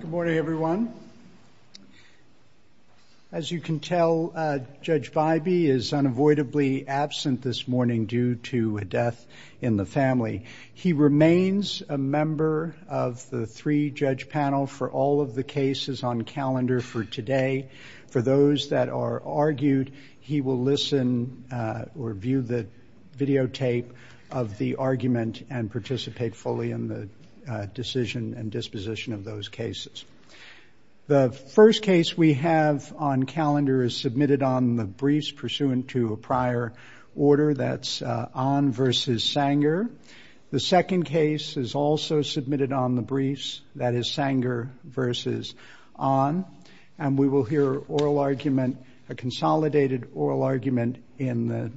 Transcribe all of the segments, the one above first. Good morning everyone. As you can tell, Judge Bybee is unavoidably absent this morning due to a death in the family. He remains a member of the three-judge panel for all of the cases on calendar for today. For those that are argued, he will listen or view the videotape of the argument and participate fully in the decision and disposition of those cases. The first case we have on calendar is submitted on the briefs pursuant to a prior order, that's Ahn v. Sanger. The second case is also submitted on the briefs, that is Sanger v. Ahn, and we will hear oral argument, a consolidated oral argument in the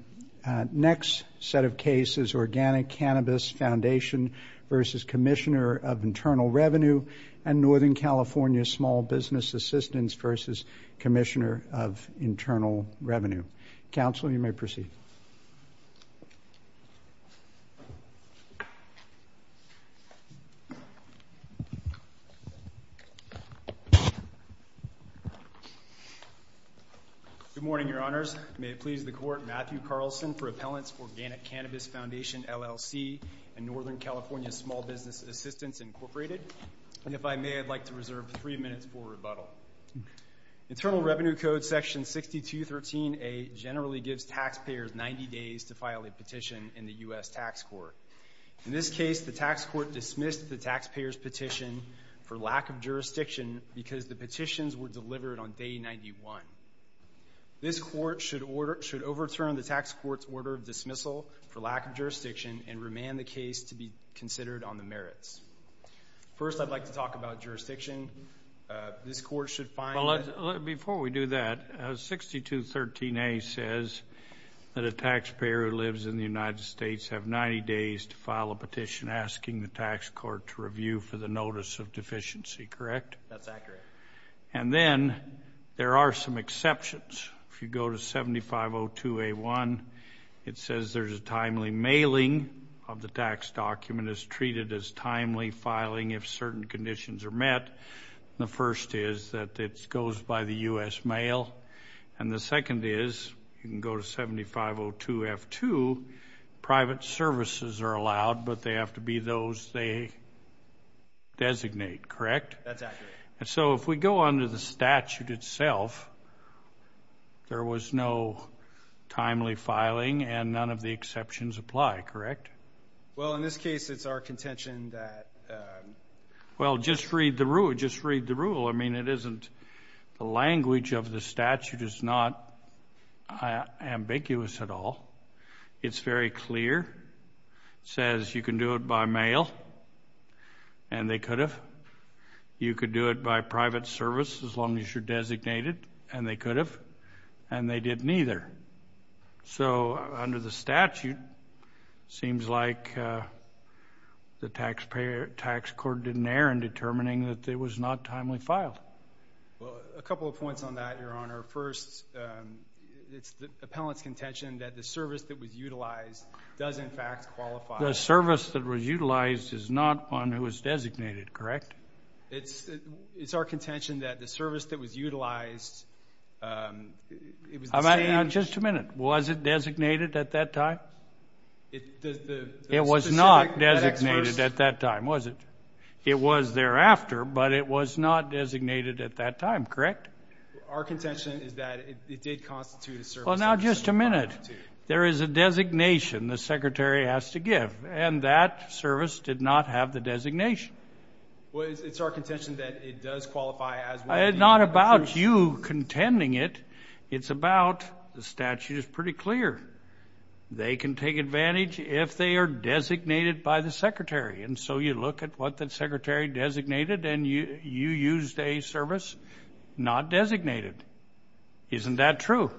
next set of cases, Organic Cannabis Foundation v. Commissioner of Internal Revenue and Northern California Small Business Assistance v. Commissioner of Internal Revenue. Counsel, you may proceed. Good morning, Your Honors. May it please the Court, Matthew Carlson for Appellants Organic Cannabis Foundation, LLC and Northern California Small Business Assistance, Incorporated. And if I may, I'd like to reserve three minutes for rebuttal. Internal Revenue Code section 6213a generally gives taxpayers 90 days to file a petition in the U.S. Tax Court. In this case, the tax court dismissed the taxpayers petition for lack of jurisdiction because the petitions were delivered on day 91. This court should overturn the tax court's order of dismissal for lack of jurisdiction and remand the case to be considered on the merits. First, I'd like to talk about jurisdiction. This court should find... Before we do that, 6213a says that a taxpayer who lives in the United States have 90 days to file a petition asking the tax court to review for the notice of deficiency, correct? That's accurate. And then, there are some It says there's a timely mailing of the tax document is treated as timely filing if certain conditions are met. The first is that it goes by the U.S. mail. And the second is, you can go to 7502 F2, private services are allowed, but they have to be those they designate, correct? That's accurate. And so, if we go on to the and none of the exceptions apply, correct? Well, in this case, it's our contention that... Well, just read the rule. Just read the rule. I mean, it isn't... The language of the statute is not ambiguous at all. It's very clear. It says you can do it by mail, and they could have. You could do it by private service as long as you're So, under the statute, seems like the taxpayer tax court didn't err in determining that it was not timely filed. Well, a couple of points on that, Your Honor. First, it's the appellant's contention that the service that was utilized does, in fact, qualify. The service that was utilized is not one who was designated, correct? It's our contention that the service that was Was it designated at that time? It was not designated at that time, was it? It was thereafter, but it was not designated at that time, correct? Our contention is that it did constitute a service... Well, now, just a minute. There is a designation the secretary has to give, and that service did not have the designation. Well, it's our contention that it does qualify as... It's not about you contending it. It's about the statute is pretty clear. They can take advantage if they are designated by the secretary, and so you look at what the secretary designated, and you used a service not designated. Isn't that true?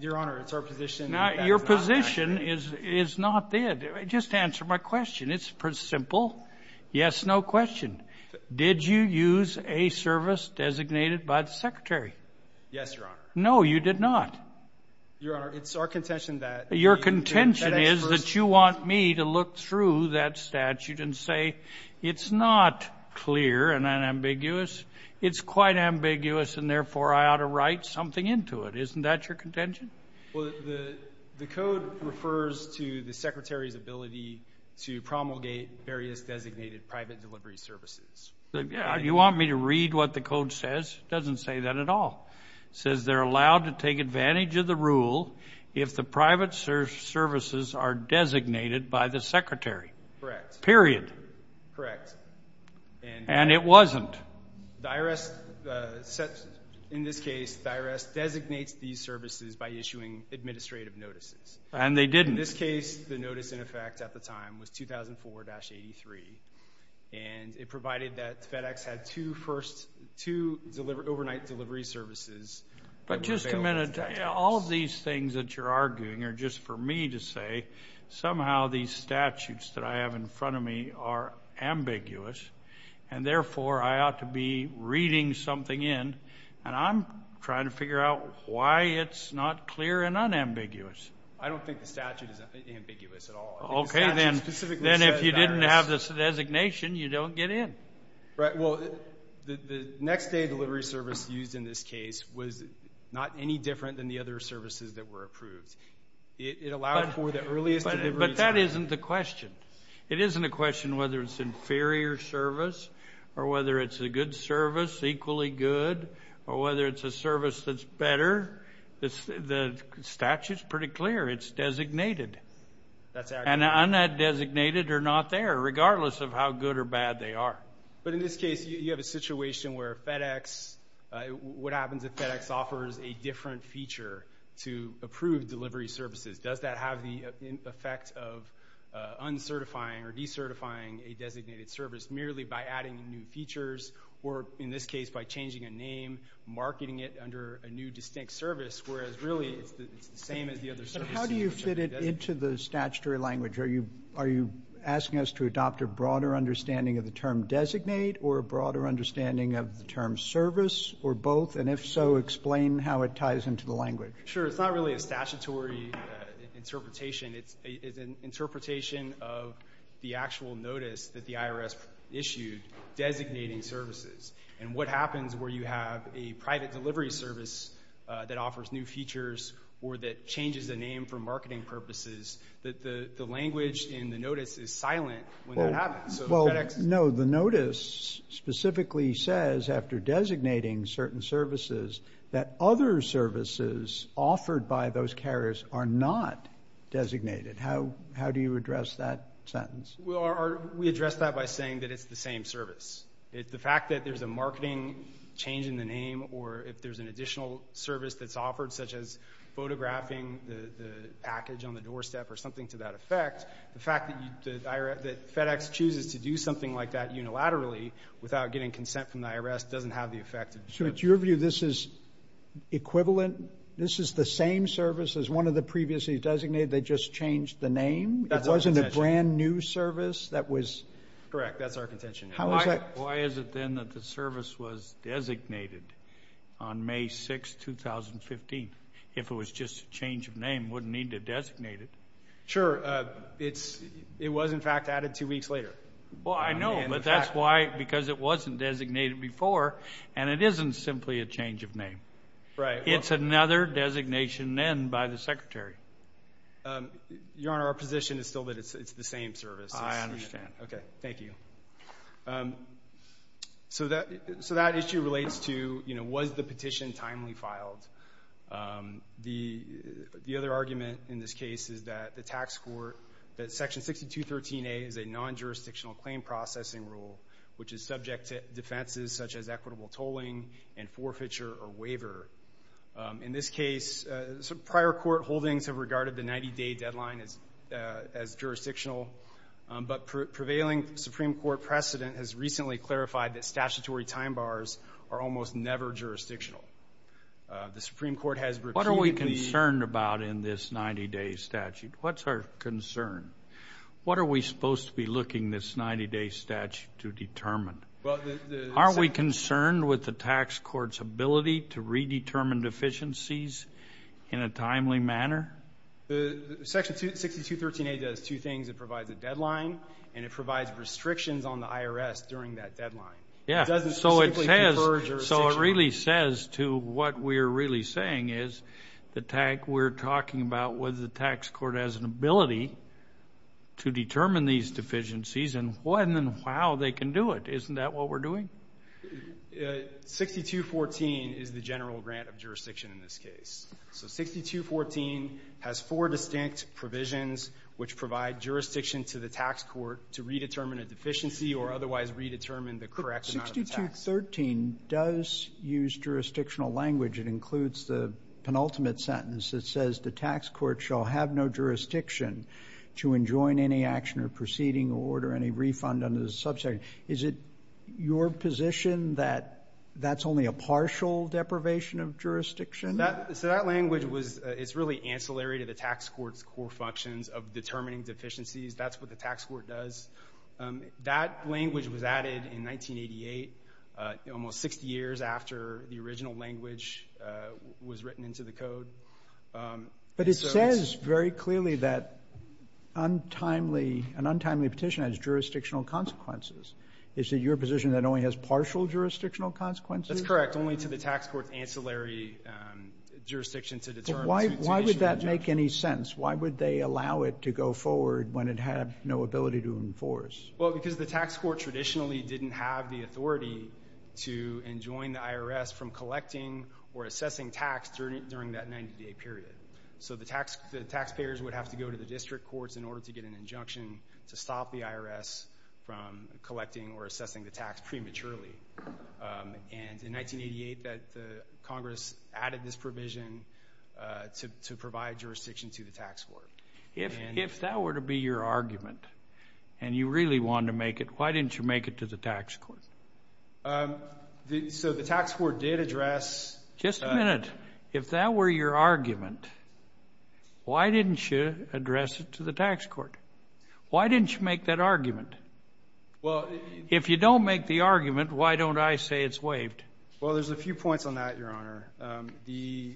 Your Honor, it's our position... Now, your position is not that. Just answer my question. It's pretty simple. Yes, no question. Did you use a service designated by the secretary? Yes, Your Honor. No, you did not. Your Honor, it's our contention that... Your contention is that you want me to look through that statute and say it's not clear and unambiguous. It's quite ambiguous, and therefore, I ought to write something into it. Isn't that your contention? Well, the code refers to the service designated private delivery services. You want me to read what the code says? It doesn't say that at all. It says they're allowed to take advantage of the rule if the private services are designated by the secretary. Correct. Period. Correct. And it wasn't. In this case, the IRS designates these services by issuing administrative notices. And they didn't. In this case, the And it provided that FedEx had two first... two overnight delivery services... But just a minute. All these things that you're arguing are just for me to say somehow these statutes that I have in front of me are ambiguous, and therefore, I ought to be reading something in, and I'm trying to figure out why it's not clear and unambiguous. I don't think the statute is ambiguous at all. Okay, then if you didn't have this designation, you don't get in. Right. Well, the next day delivery service used in this case was not any different than the other services that were approved. It allowed for the earliest delivery time. But that isn't the question. It isn't a question whether it's inferior service or whether it's a good service, equally good, or whether it's a service that's better. The statute's pretty clear. It's designated. That's accurate. And un-designated are not there, regardless of how good or bad they are. But in this case, you have a situation where FedEx... What happens if FedEx offers a different feature to approve delivery services? Does that have the effect of uncertifying or decertifying a designated service merely by adding new features or, in this case, by changing a name, marketing it under a new distinct service, whereas really it's the same as the other services? How do you fit it into the statutory language? Are you asking us to adopt a broader understanding of the term designate or a broader understanding of the term service or both? And if so, explain how it ties into the language. Sure. It's not really a statutory interpretation. It's an interpretation of the actual notice that the IRS issued designating services and what happens where you have a private delivery service that offers new features or that offers marketing purposes, that the language in the notice is silent when that happens. Well, no, the notice specifically says, after designating certain services, that other services offered by those carriers are not designated. How do you address that sentence? Well, we address that by saying that it's the same service. The fact that there's a marketing change in the name or if there's an additional service that's offered, such as photographing the package on the doorstep or something to that effect, the fact that FedEx chooses to do something like that unilaterally without getting consent from the IRS doesn't have the effect. So it's your view this is equivalent, this is the same service as one of the previously designated, they just changed the name? It wasn't a brand new service that was... Correct. That's our contention. Why is it then that the service was designated on May 6, 2015? If it was just a change of name, it wouldn't need to designate it. Sure. It was, in fact, added two weeks later. Well, I know, but that's why, because it wasn't designated before and it isn't simply a change of name. It's another designation then by the Secretary. Your Honor, our position is still that it's the same service. I understand. Okay. Thank you. So that issue relates to, you know, was the petition timely filed? The other argument in this case is that the tax court, that Section 6213a is a non-jurisdictional claim processing rule, which is subject to defenses such as equitable tolling and forfeiture or waiver. In this case, prior court holdings have regarded the 90-day deadline as prevailing. Supreme Court precedent has recently clarified that statutory time bars are almost never jurisdictional. The Supreme Court has repeatedly... What are we concerned about in this 90-day statute? What's our concern? What are we supposed to be looking this 90-day statute to determine? Are we concerned with the tax court's ability to redetermine deficiencies in a timely manner? The Section 6213a does two things. It provides a deadline and it provides restrictions on the IRS during that deadline. Yeah. So it really says to what we're really saying is, we're talking about whether the tax court has an ability to determine these deficiencies and when and how they can do it. Isn't that what we're doing? 6214 is the general grant of jurisdiction in this case. So 6214 has four distinct provisions which provide jurisdiction to the tax court to redetermine a deficiency or otherwise redetermine the correct amount of tax. 6213 does use jurisdictional language. It includes the penultimate sentence. It says the tax court shall have no jurisdiction to enjoin any action or proceeding or order any refund under the subject. Is it your position that that's only a partial deprivation of jurisdiction? So that language is really ancillary to the tax court's core functions of determining deficiencies. That's what the tax court does. That language was added in 1988, almost 60 years after the original language was written into the code. But it says very clearly that an untimely petition has jurisdictional consequences. Is it your position that it only has partial jurisdictional consequences? That's correct. Only to the tax court's ancillary jurisdiction to determine the situation. But why would that make any sense? Why would they allow it to go forward when it had no ability to enforce? Well, because the tax court traditionally didn't have the authority to enjoin the IRS from collecting or assessing tax during that 90-day period. So the taxpayers would have to go to the district courts in order to get an injunction to stop the IRS from collecting or assessing the tax prematurely. And in 1988, Congress added this provision to provide jurisdiction to the tax court. If that were to be your argument and you really wanted to make it, why didn't you make it to the tax court? So the tax court did address— Just a minute. If that were your argument, why didn't you address it to the tax court? Why didn't you make that argument? Well— If you don't make the argument, why don't I say it's waived? Well, there's a few points on that, Your Honor. The—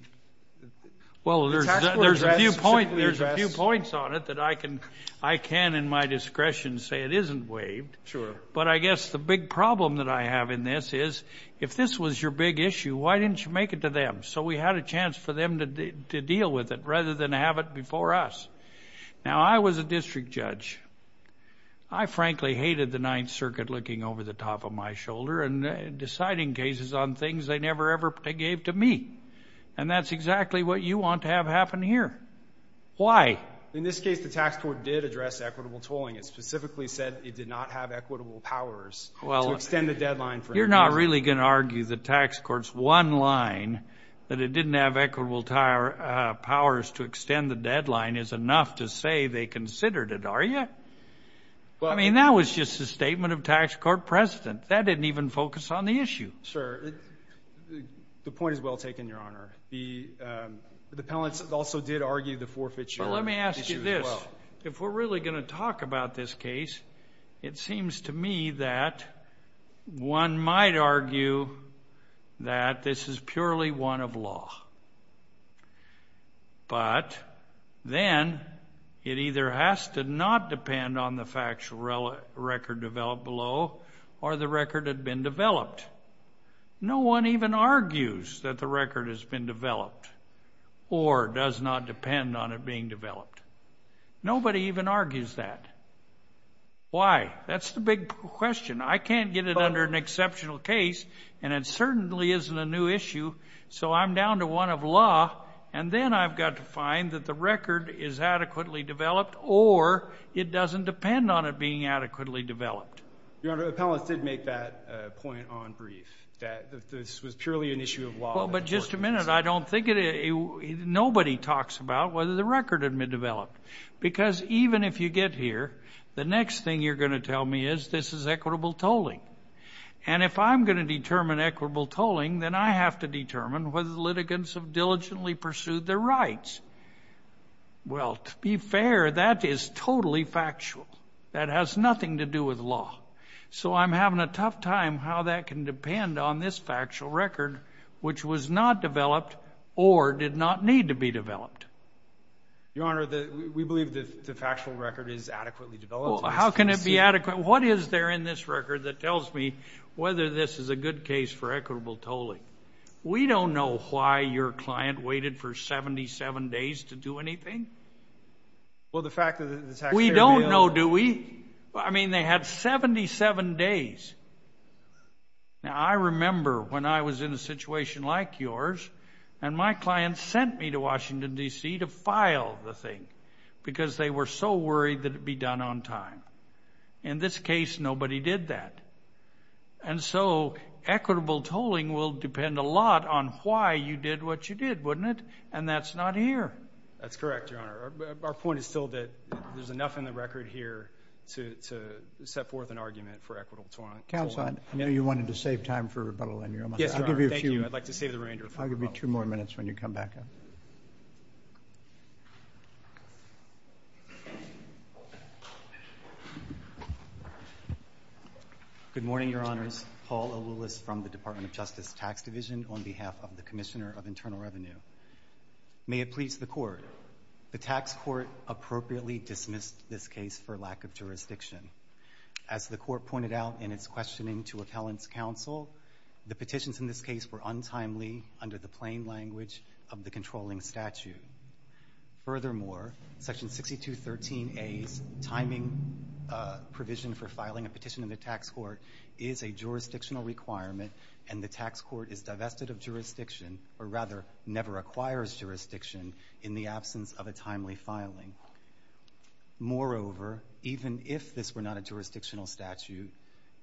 Well, there's a few points on it that I can, in my discretion, say it isn't waived. Sure. But I guess the big problem that I have in this is, if this was your big issue, why didn't you make it to them? So we had a chance for them to deal with it rather than have it before us. Now, I was a district judge. I frankly hated the Ninth Circuit looking over the top of my shoulder and deciding cases on things they never ever gave to me. And that's exactly what you want to have happen here. Why? In this case, the tax court did address equitable tolling. It specifically said it did not have equitable powers to extend the deadline for— Well, you're not really going to argue the tax court's one line, that it didn't have equitable powers to extend the deadline, is enough to say they considered it, are you? Well— I mean, that was just a statement of tax court precedent. That didn't even focus on the issue. Sir, the point is well taken, Your Honor. The panelists also did argue the forfeiture issue as well. Well, let me ask you this. If we're really going to talk about this case, it has to be developed. But then it either has to not depend on the factual record developed below or the record had been developed. No one even argues that the record has been developed or does not depend on it being developed. Nobody even argues that. Why? That's the big question. I can't get it under an exceptional case, and it certainly isn't a new issue. So I'm down to one of law, and then I've got to find that the record is adequately developed or it doesn't depend on it being adequately developed. Your Honor, the panelists did make that point on brief, that this was purely an issue of law. Well, but just a minute. I don't think it—nobody talks about whether the record had been developed. Because even if you get here, the next thing you're going to get is equitable tolling. And if I'm going to determine equitable tolling, then I have to determine whether the litigants have diligently pursued their rights. Well, to be fair, that is totally factual. That has nothing to do with law. So I'm having a tough time how that can depend on this factual record, which was not developed or did not need to be developed. Your Honor, we believe the factual record is adequately developed. How can it be adequately—what is there in this record that tells me whether this is a good case for equitable tolling? We don't know why your client waited for 77 days to do anything. Well, the fact that the taxpayer— We don't know, do we? I mean, they had 77 days. Now, I remember when I was in a situation like yours, and my client sent me to Washington, D.C., to file the thing, because they were so worried that it would be done on time. In this case, nobody did that. And so equitable tolling will depend a lot on why you did what you did, wouldn't it? And that's not here. That's correct, Your Honor. Our point is still that there's enough in the record here to set forth an argument for equitable tolling. Counsel, I know you wanted to save time for rebuttal, and you're almost— Yes, Your Honor. Thank you. I'd like to save the remainder of time. I'll give you two more minutes when you come back up. Thank you. Good morning, Your Honors. Paul Olulis from the Department of Justice Tax Division on behalf of the Commissioner of Internal Revenue. May it please the Court, the tax court appropriately dismissed this case for lack of jurisdiction. As the Court pointed out in its questioning to Appellant's counsel, the petitions in this case were untimely under the plain of the controlling statute. Furthermore, Section 6213A's timing provision for filing a petition in the tax court is a jurisdictional requirement, and the tax court is divested of jurisdiction, or rather, never acquires jurisdiction in the absence of a timely filing. Moreover, even if this were not a jurisdictional statute,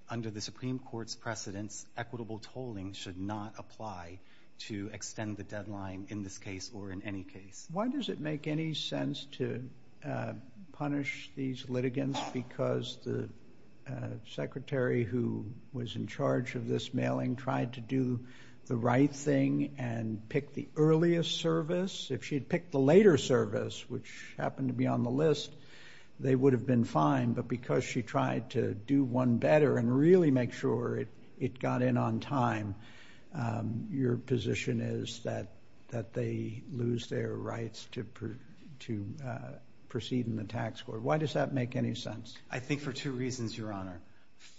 under the Supreme Court's precedence, equitable tolling should not apply to extend the deadline in this case or in any case. Why does it make any sense to punish these litigants? Because the Secretary who was in charge of this mailing tried to do the right thing and pick the earliest service? If she had picked the later service, which happened to be on the list, they would have been fine. But because she tried to do one better and really make sure it got in on time, your position is that they lose their rights to proceed in the tax court. Why does that make any sense? I think for two reasons, Your Honor.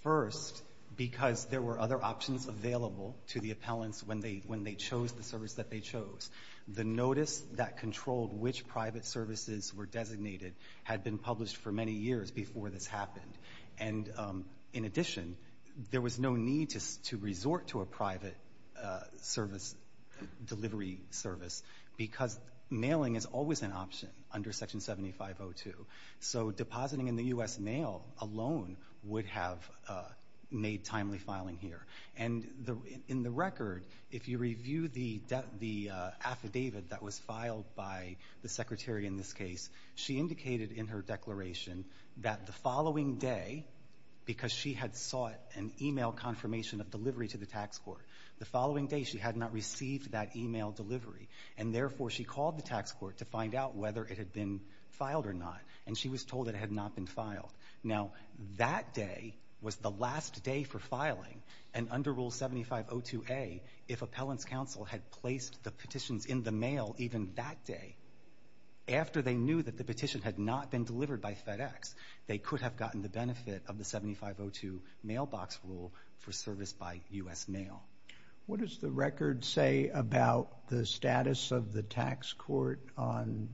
First, because there were other options available to the appellants when they chose the service that they chose. The notice that controlled which private services were designated had been published for many years before this happened. And in addition, there was no need to resort to a private service, delivery service, because mailing is always an option under Section 7502. So depositing in the U.S. mail alone would have made timely filing here. And in the record, if you review the affidavit that was filed by the Secretary in this case, she indicated in her declaration that the following day, because she had sought an email confirmation of delivery to the tax court, the following day she had not received that email delivery. And therefore, she called the tax court to find out whether it had been filed or not. And she was told it had not been filed. Now, that day was the last day for filing. And under Rule 7502A, if appellants counsel had placed the petitions in the mail even that day, after they knew that the petition had not been delivered by FedEx, they could have gotten the benefit of the 7502 mailbox rule for service by U.S. mail. What does the record say about the status of the tax court on,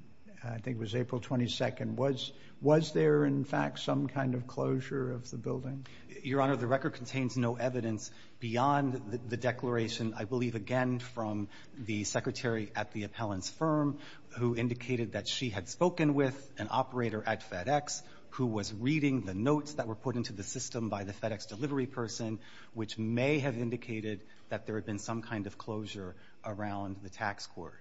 I think it was April 22nd, was there in fact some kind of closure of the building? Your Honor, the record contains no evidence beyond the declaration, I believe again from the secretary at the appellant's firm, who indicated that she had spoken with an operator at FedEx, who was reading the notes that were put into the system by the FedEx delivery person, which may have indicated that there had been some kind of closure around the tax court.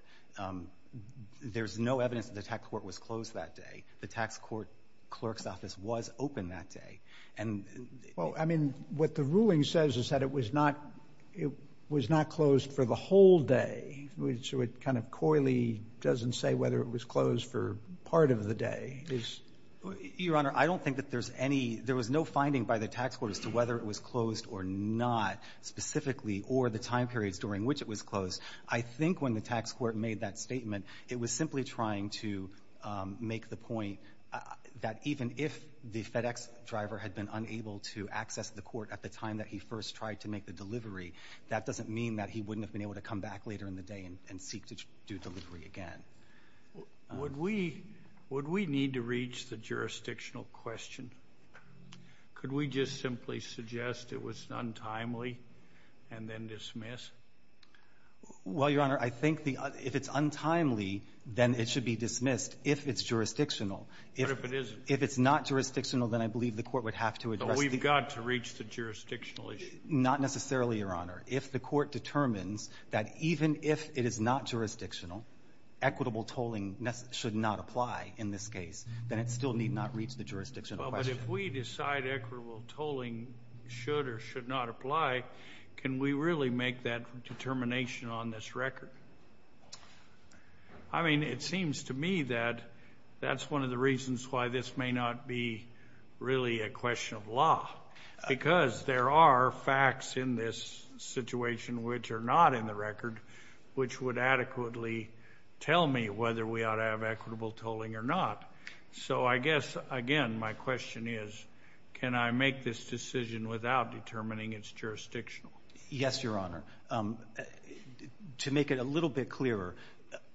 There's no evidence that the tax court was closed that day. The tax court clerk's office was open that day. And Well, I mean, what the ruling says is that it was not, it was not closed for the whole day. So it kind of coyly doesn't say whether it was closed for part of the day. Your Honor, I don't think that there's any, there was no finding by the tax court as to whether it was closed or not, specifically, or the time periods during which it was closed. I think when the tax court made that statement, it was simply trying to make the point that even if the FedEx driver had been unable to access the court at the time that he first tried to make the delivery, that doesn't mean that he wouldn't have been able to come back later in the day and seek to do delivery again. Would we, would we need to reach the jurisdictional question? Could we just simply suggest it was untimely and then dismiss? Well, Your Honor, I think the, if it's untimely, then it should be dismissed if it's jurisdictional. What if it isn't? If it's not jurisdictional, then I believe the court would have to address But we've got to reach the jurisdictional issue. Not necessarily, Your Honor. If the court determines that even if it is not jurisdictional, equitable tolling should not apply in this case, then it still need not reach the jurisdictional question. But if we decide equitable tolling should or should not apply, can we really make that determination on this record? I mean, it seems to me that that's one of the reasons why this may not be really a question of law, because there are facts in this situation which are not in the record, which would adequately tell me whether we ought to have equitable tolling or not. So I guess, again, my question is, can I make this decision without determining it's jurisdictional? Yes, Your Honor. To make it a little bit clearer,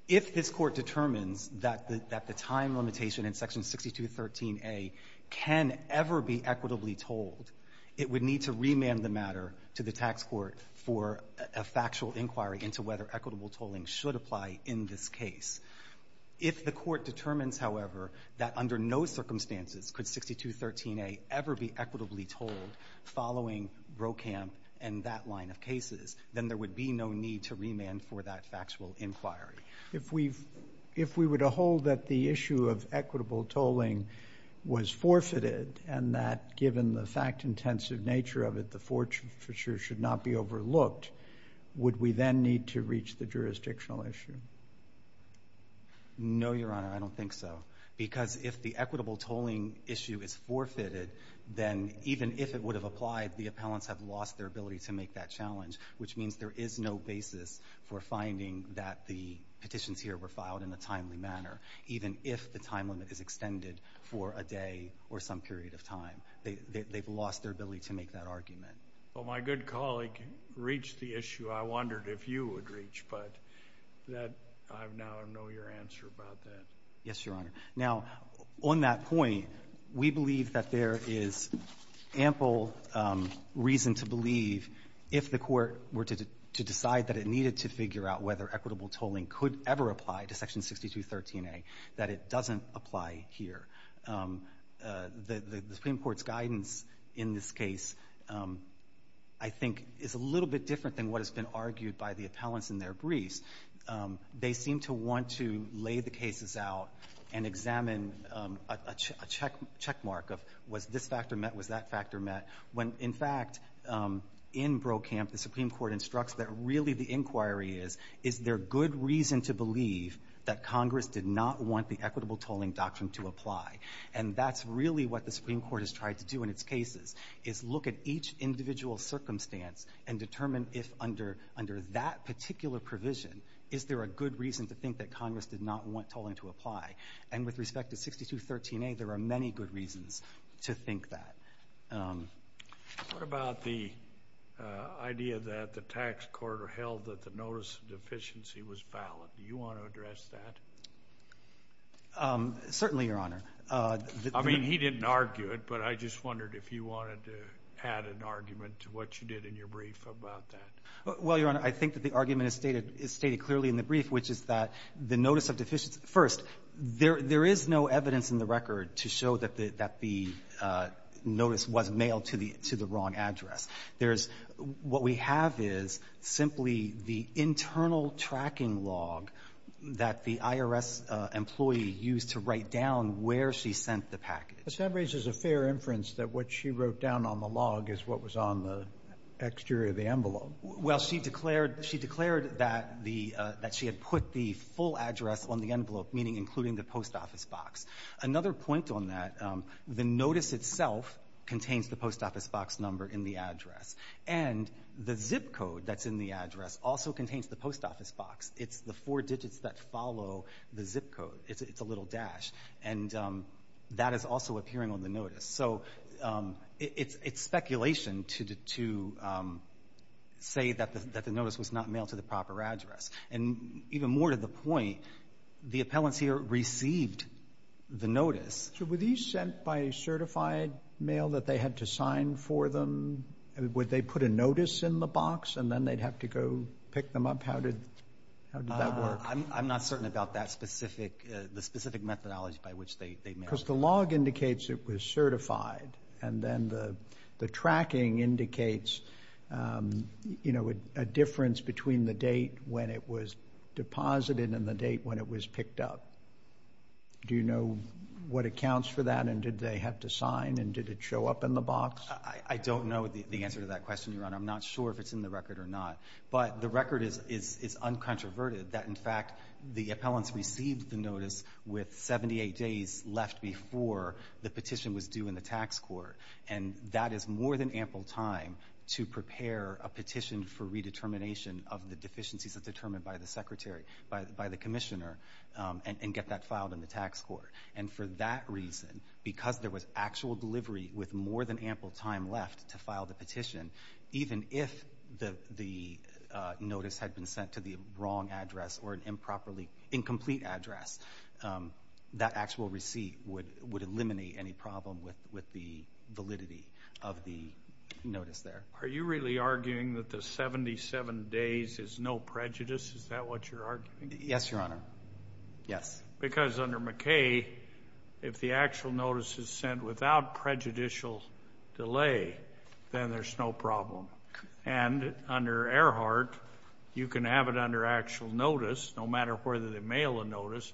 if this court determines that the time limitation in section 6213A can ever be equitably tolled, it would need to remand the matter to the tax court for a factual inquiry into whether equitable tolling should apply in this case. If the court determines, however, that under no circumstances could 6213A ever be equitably tolled following Brokamp and that line of cases, then there would be no need to remand for that factual inquiry. If we were to hold that the issue of equitable tolling was forfeited and that, given the fact-intensive nature of it, the forfeiture should not be overlooked, would we then need to reach the jurisdictional issue? No, Your Honor, I don't think so. Because if the equitable tolling issue is forfeited, then even if it would have applied, the appellants have lost their ability to make that challenge, which means there is no basis for finding that the petitions here were filed in a timely manner, even if the time limit is extended for a day or some period of time. They've lost their ability to make that argument. Well, my good colleague reached the issue. I wondered if you would reach, but I now know your answer about that. Yes, Your Honor. Now, on that point, we believe that there is ample reason to believe if the court were to decide that it needed to figure out whether equitable tolling could ever apply to Section 6213A, that it doesn't apply here. The Supreme Court's guidance in this case, I think, is a little bit different than what has been argued by the appellants in their briefs. They seem to want to lay the cases out and examine a checkmark of was this factor met, was that factor met? In fact, in Brokamp, the Supreme Court instructs that really the inquiry is, is there good reason to believe that Congress did not want the equitable tolling doctrine to apply? And that's really what the Supreme Court has tried to do in its cases, is look at each individual circumstance and determine if under that particular provision, is there a good reason to think that Congress did not want tolling to apply? And with respect to 6213A, there are many good reasons to think that. What about the idea that the tax corridor held that the notice of deficiency was valid? Do you want to address that? Certainly, Your Honor. I mean, he didn't argue it, but I just wondered if you wanted to add an argument to what you did in your brief about that. Well, Your Honor, I think that the argument is stated clearly in the brief, which is that the notice of deficiency, first, there is no evidence in the record to show that the notice was mailed to the wrong address. There is, what we have is simply the internal tracking log that the IRS employee used to write down where she sent the package. But that raises a fair inference that what she wrote down on the log is what was on the exterior of the envelope. Well, she declared that she had put the full address on the envelope, meaning including the post office box. Another point on that, the notice itself contains the post office box number in the address. And the zip code that's in the address also contains the post office box. It's the four digits that follow the zip code. It's a little dash. And that is also appearing on the notice. So it's speculation to say that the notice was not mailed to the proper address. And even more to the point, the appellant here received the notice. So were these sent by a certified mail that they had to sign for them? Would they put a notice in the box and then they'd have to go pick them up? How did that work? I'm not certain about that specific, the specific methodology by which they mailed Because the log indicates it was certified. And then the tracking indicates a difference between the date when it was deposited and the date when it was picked up. Do you know what accounts for that? And did they have to sign? And did it show up in the box? I don't know the answer to that question, Your Honor. I'm not sure if it's in the record or not. But the record is uncontroverted that, in fact, the appellants received the notice with 78 days left before the petition was due in the tax court. And that is more than ample time to prepare a petition for redetermination of the deficiencies that are determined by the secretary, by the commissioner, and get that filed in the tax court. And for that reason, because there was actual delivery with more than ample time left to file the petition, even if the notice had been sent to the wrong address or an improperly that actual receipt would eliminate any problem with the validity of the notice there. Are you really arguing that the 77 days is no prejudice? Is that what you're arguing? Yes, Your Honor. Yes. Because under McKay, if the actual notice is sent without prejudicial delay, then there's no problem. And under Earhart, you can have it under actual notice, no matter whether they mail a notice,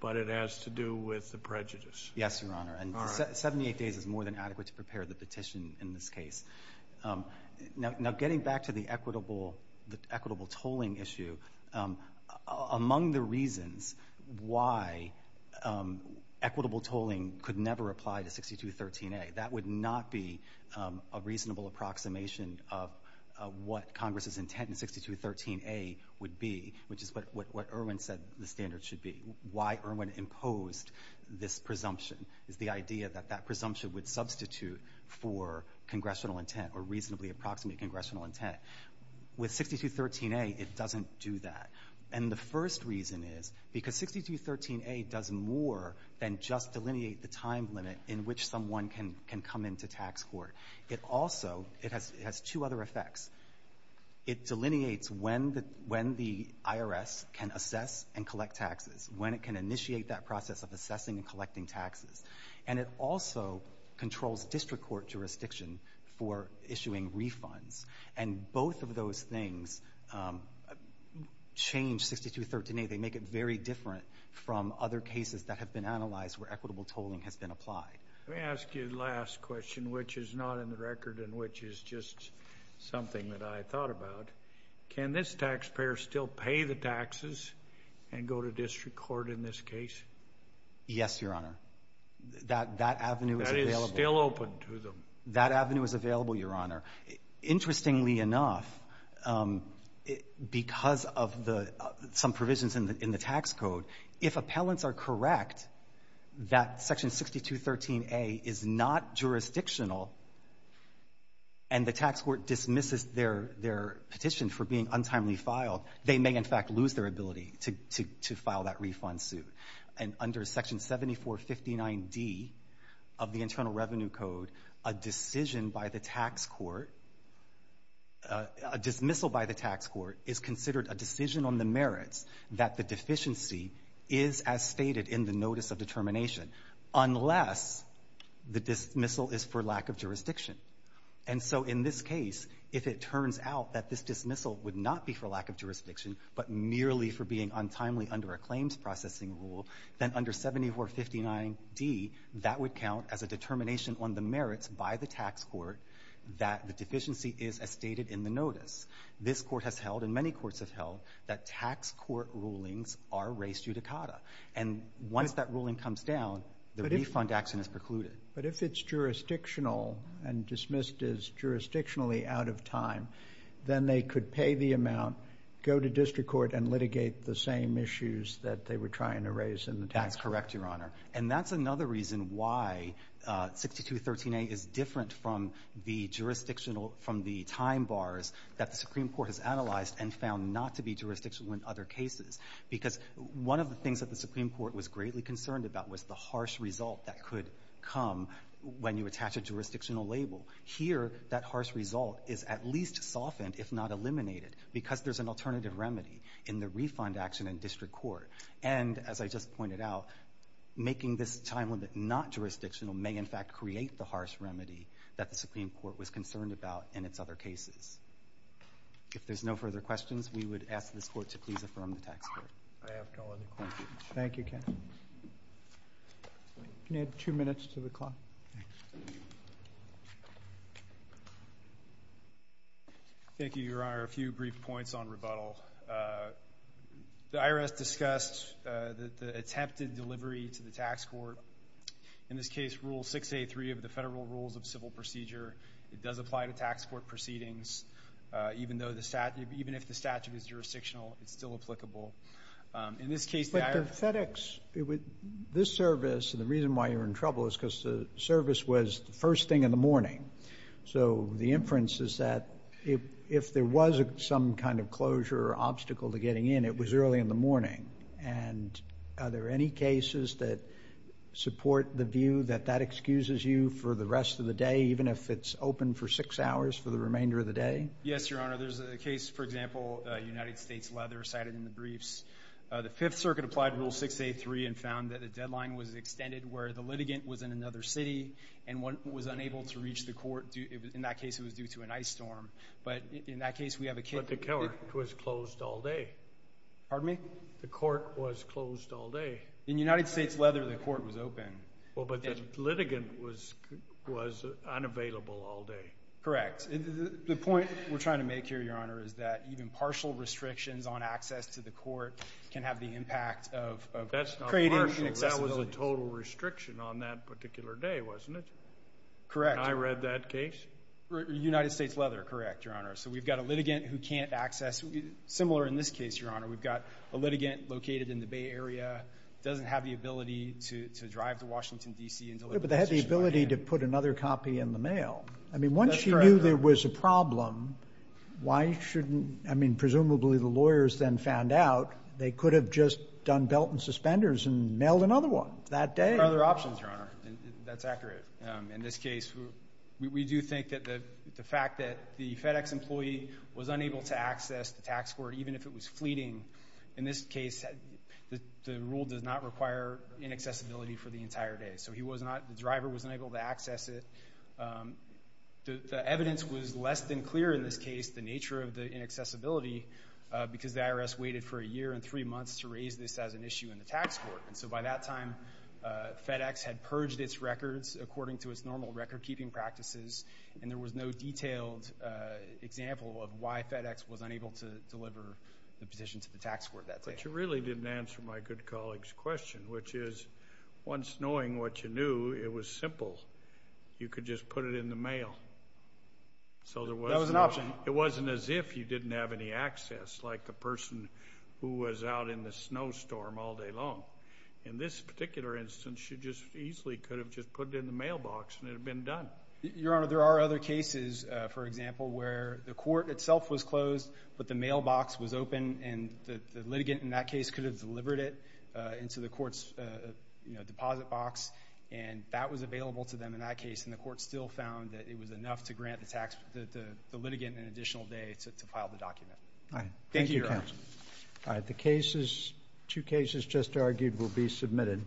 but it has to do with the prejudice. Yes, Your Honor. And 78 days is more than adequate to prepare the petition in this case. Now, getting back to the equitable tolling issue, among the reasons why equitable tolling could never apply to 6213A, that would not be a reasonable approximation of what Congress's why Irwin imposed this presumption, is the idea that that presumption would substitute for congressional intent or reasonably approximate congressional intent. With 6213A, it doesn't do that. And the first reason is because 6213A does more than just delineate the time limit in which someone can come into tax court. It also, it has two other effects. It delineates when the IRS can assess and collect taxes. When it can initiate that process of assessing and collecting taxes. And it also controls district court jurisdiction for issuing refunds. And both of those things change 6213A. They make it very different from other cases that have been analyzed where equitable tolling has been applied. Let me ask you the last question, which is not in the record and which is just something that I thought about. Can this taxpayer still pay the taxes and go to district court in this case? Yes, Your Honor. That avenue is available. That is still open to them. That avenue is available, Your Honor. Interestingly enough, because of some provisions in the tax code, if appellants are correct, that section 6213A is not jurisdictional and the tax court dismisses their petition for being untimely filed, they may in fact lose their ability to file that refund suit. And under section 7459D of the Internal Revenue Code, a decision by the tax court, a dismissal by the tax court is considered a decision on the merits that the deficiency is as stated in the notice of determination. Unless the dismissal is for lack of jurisdiction. And so in this case, if it turns out that this dismissal would not be for lack of jurisdiction, but merely for being untimely under a claims processing rule, then under 7459D, that would count as a determination on the merits by the tax court that the deficiency is as stated in the notice. This court has held and many courts have held that tax court rulings are res judicata. And once that ruling comes down, the refund action is precluded. But if it's jurisdictional and dismissed as jurisdictionally out of time, then they could pay the amount, go to district court and litigate the same issues that they were trying to raise in the tax court. That's correct, Your Honor. And that's another reason why 6213A is different from the jurisdictional, from the time bars that the Supreme Court has analyzed and found not to be jurisdictional in other cases. Because one of the things that the Supreme Court was greatly concerned about was the harsh result that could come when you attach a jurisdictional label. Here, that harsh result is at least softened, if not eliminated, because there's an alternative remedy in the refund action in district court. And as I just pointed out, making this time limit not jurisdictional may, in fact, create the harsh remedy that the Supreme Court was concerned about in its other cases. If there's no further questions, we would ask this Court to please affirm the tax court. I have no other questions. Thank you, Ken. Can you add two minutes to the clock? Thanks. Thank you, Your Honor. A few brief points on rebuttal. The IRS discussed the attempted delivery to the tax court, in this case, Rule 6A3 of the Federal Rules of Civil Procedure. It does apply to tax court proceedings. Even if the statute is jurisdictional, it's still applicable. In this case, the IRS- But the FedEx, this service, and the reason why you're in trouble is because the service was the first thing in the morning. So the inference is that if there was some kind of closure or obstacle to getting in, it was early in the morning. And are there any cases that support the view that that excuses you for the rest of the day? Yes, Your Honor. There's a case, for example, United States Leather cited in the briefs. The Fifth Circuit applied Rule 6A3 and found that the deadline was extended where the litigant was in another city and was unable to reach the court. In that case, it was due to an ice storm. But in that case, we have a kid- But the court was closed all day. Pardon me? The court was closed all day. In United States Leather, the court was open. Well, but the litigant was unavailable all day. Correct. The point we're trying to make here, Your Honor, is that even partial restrictions on access to the court can have the impact of creating inaccessibility. That's not partial. That was a total restriction on that particular day, wasn't it? Correct. When I read that case? United States Leather, correct, Your Honor. So we've got a litigant who can't access. Similar in this case, Your Honor. We've got a litigant located in the Bay Area, doesn't have the ability to drive to Washington, D.C. and deliver- But they had the ability to put another copy in the mail. I mean, once you knew there was a problem, why shouldn't- I mean, presumably the lawyers then found out they could have just done belt and suspenders and mailed another one that day. There are other options, Your Honor. That's accurate. In this case, we do think that the fact that the FedEx employee was unable to access the tax court, even if it was fleeting, in this case, the rule does not require inaccessibility for the entire day. The driver was unable to access it. The evidence was less than clear in this case, the nature of the inaccessibility, because the IRS waited for a year and three months to raise this as an issue in the tax court. And so by that time, FedEx had purged its records according to its normal record-keeping practices, and there was no detailed example of why FedEx was unable to deliver the petition to the tax court that day. But you really didn't answer my good colleague's question, which is, once knowing what you knew, it was simple. You could just put it in the mail. So there was an option. It wasn't as if you didn't have any access, like the person who was out in the snowstorm all day long. In this particular instance, you just easily could have just put it in the mailbox, and it had been done. Your Honor, there are other cases, for example, where the court itself was closed, but the mailbox was open, and the litigant in that case could have delivered it into the court's deposit box. And that was available to them in that case, and the court still found that it was enough to grant the litigant an additional day to file the document. All right. Thank you, Your Honor. All right. The cases, two cases just argued, will be submitted.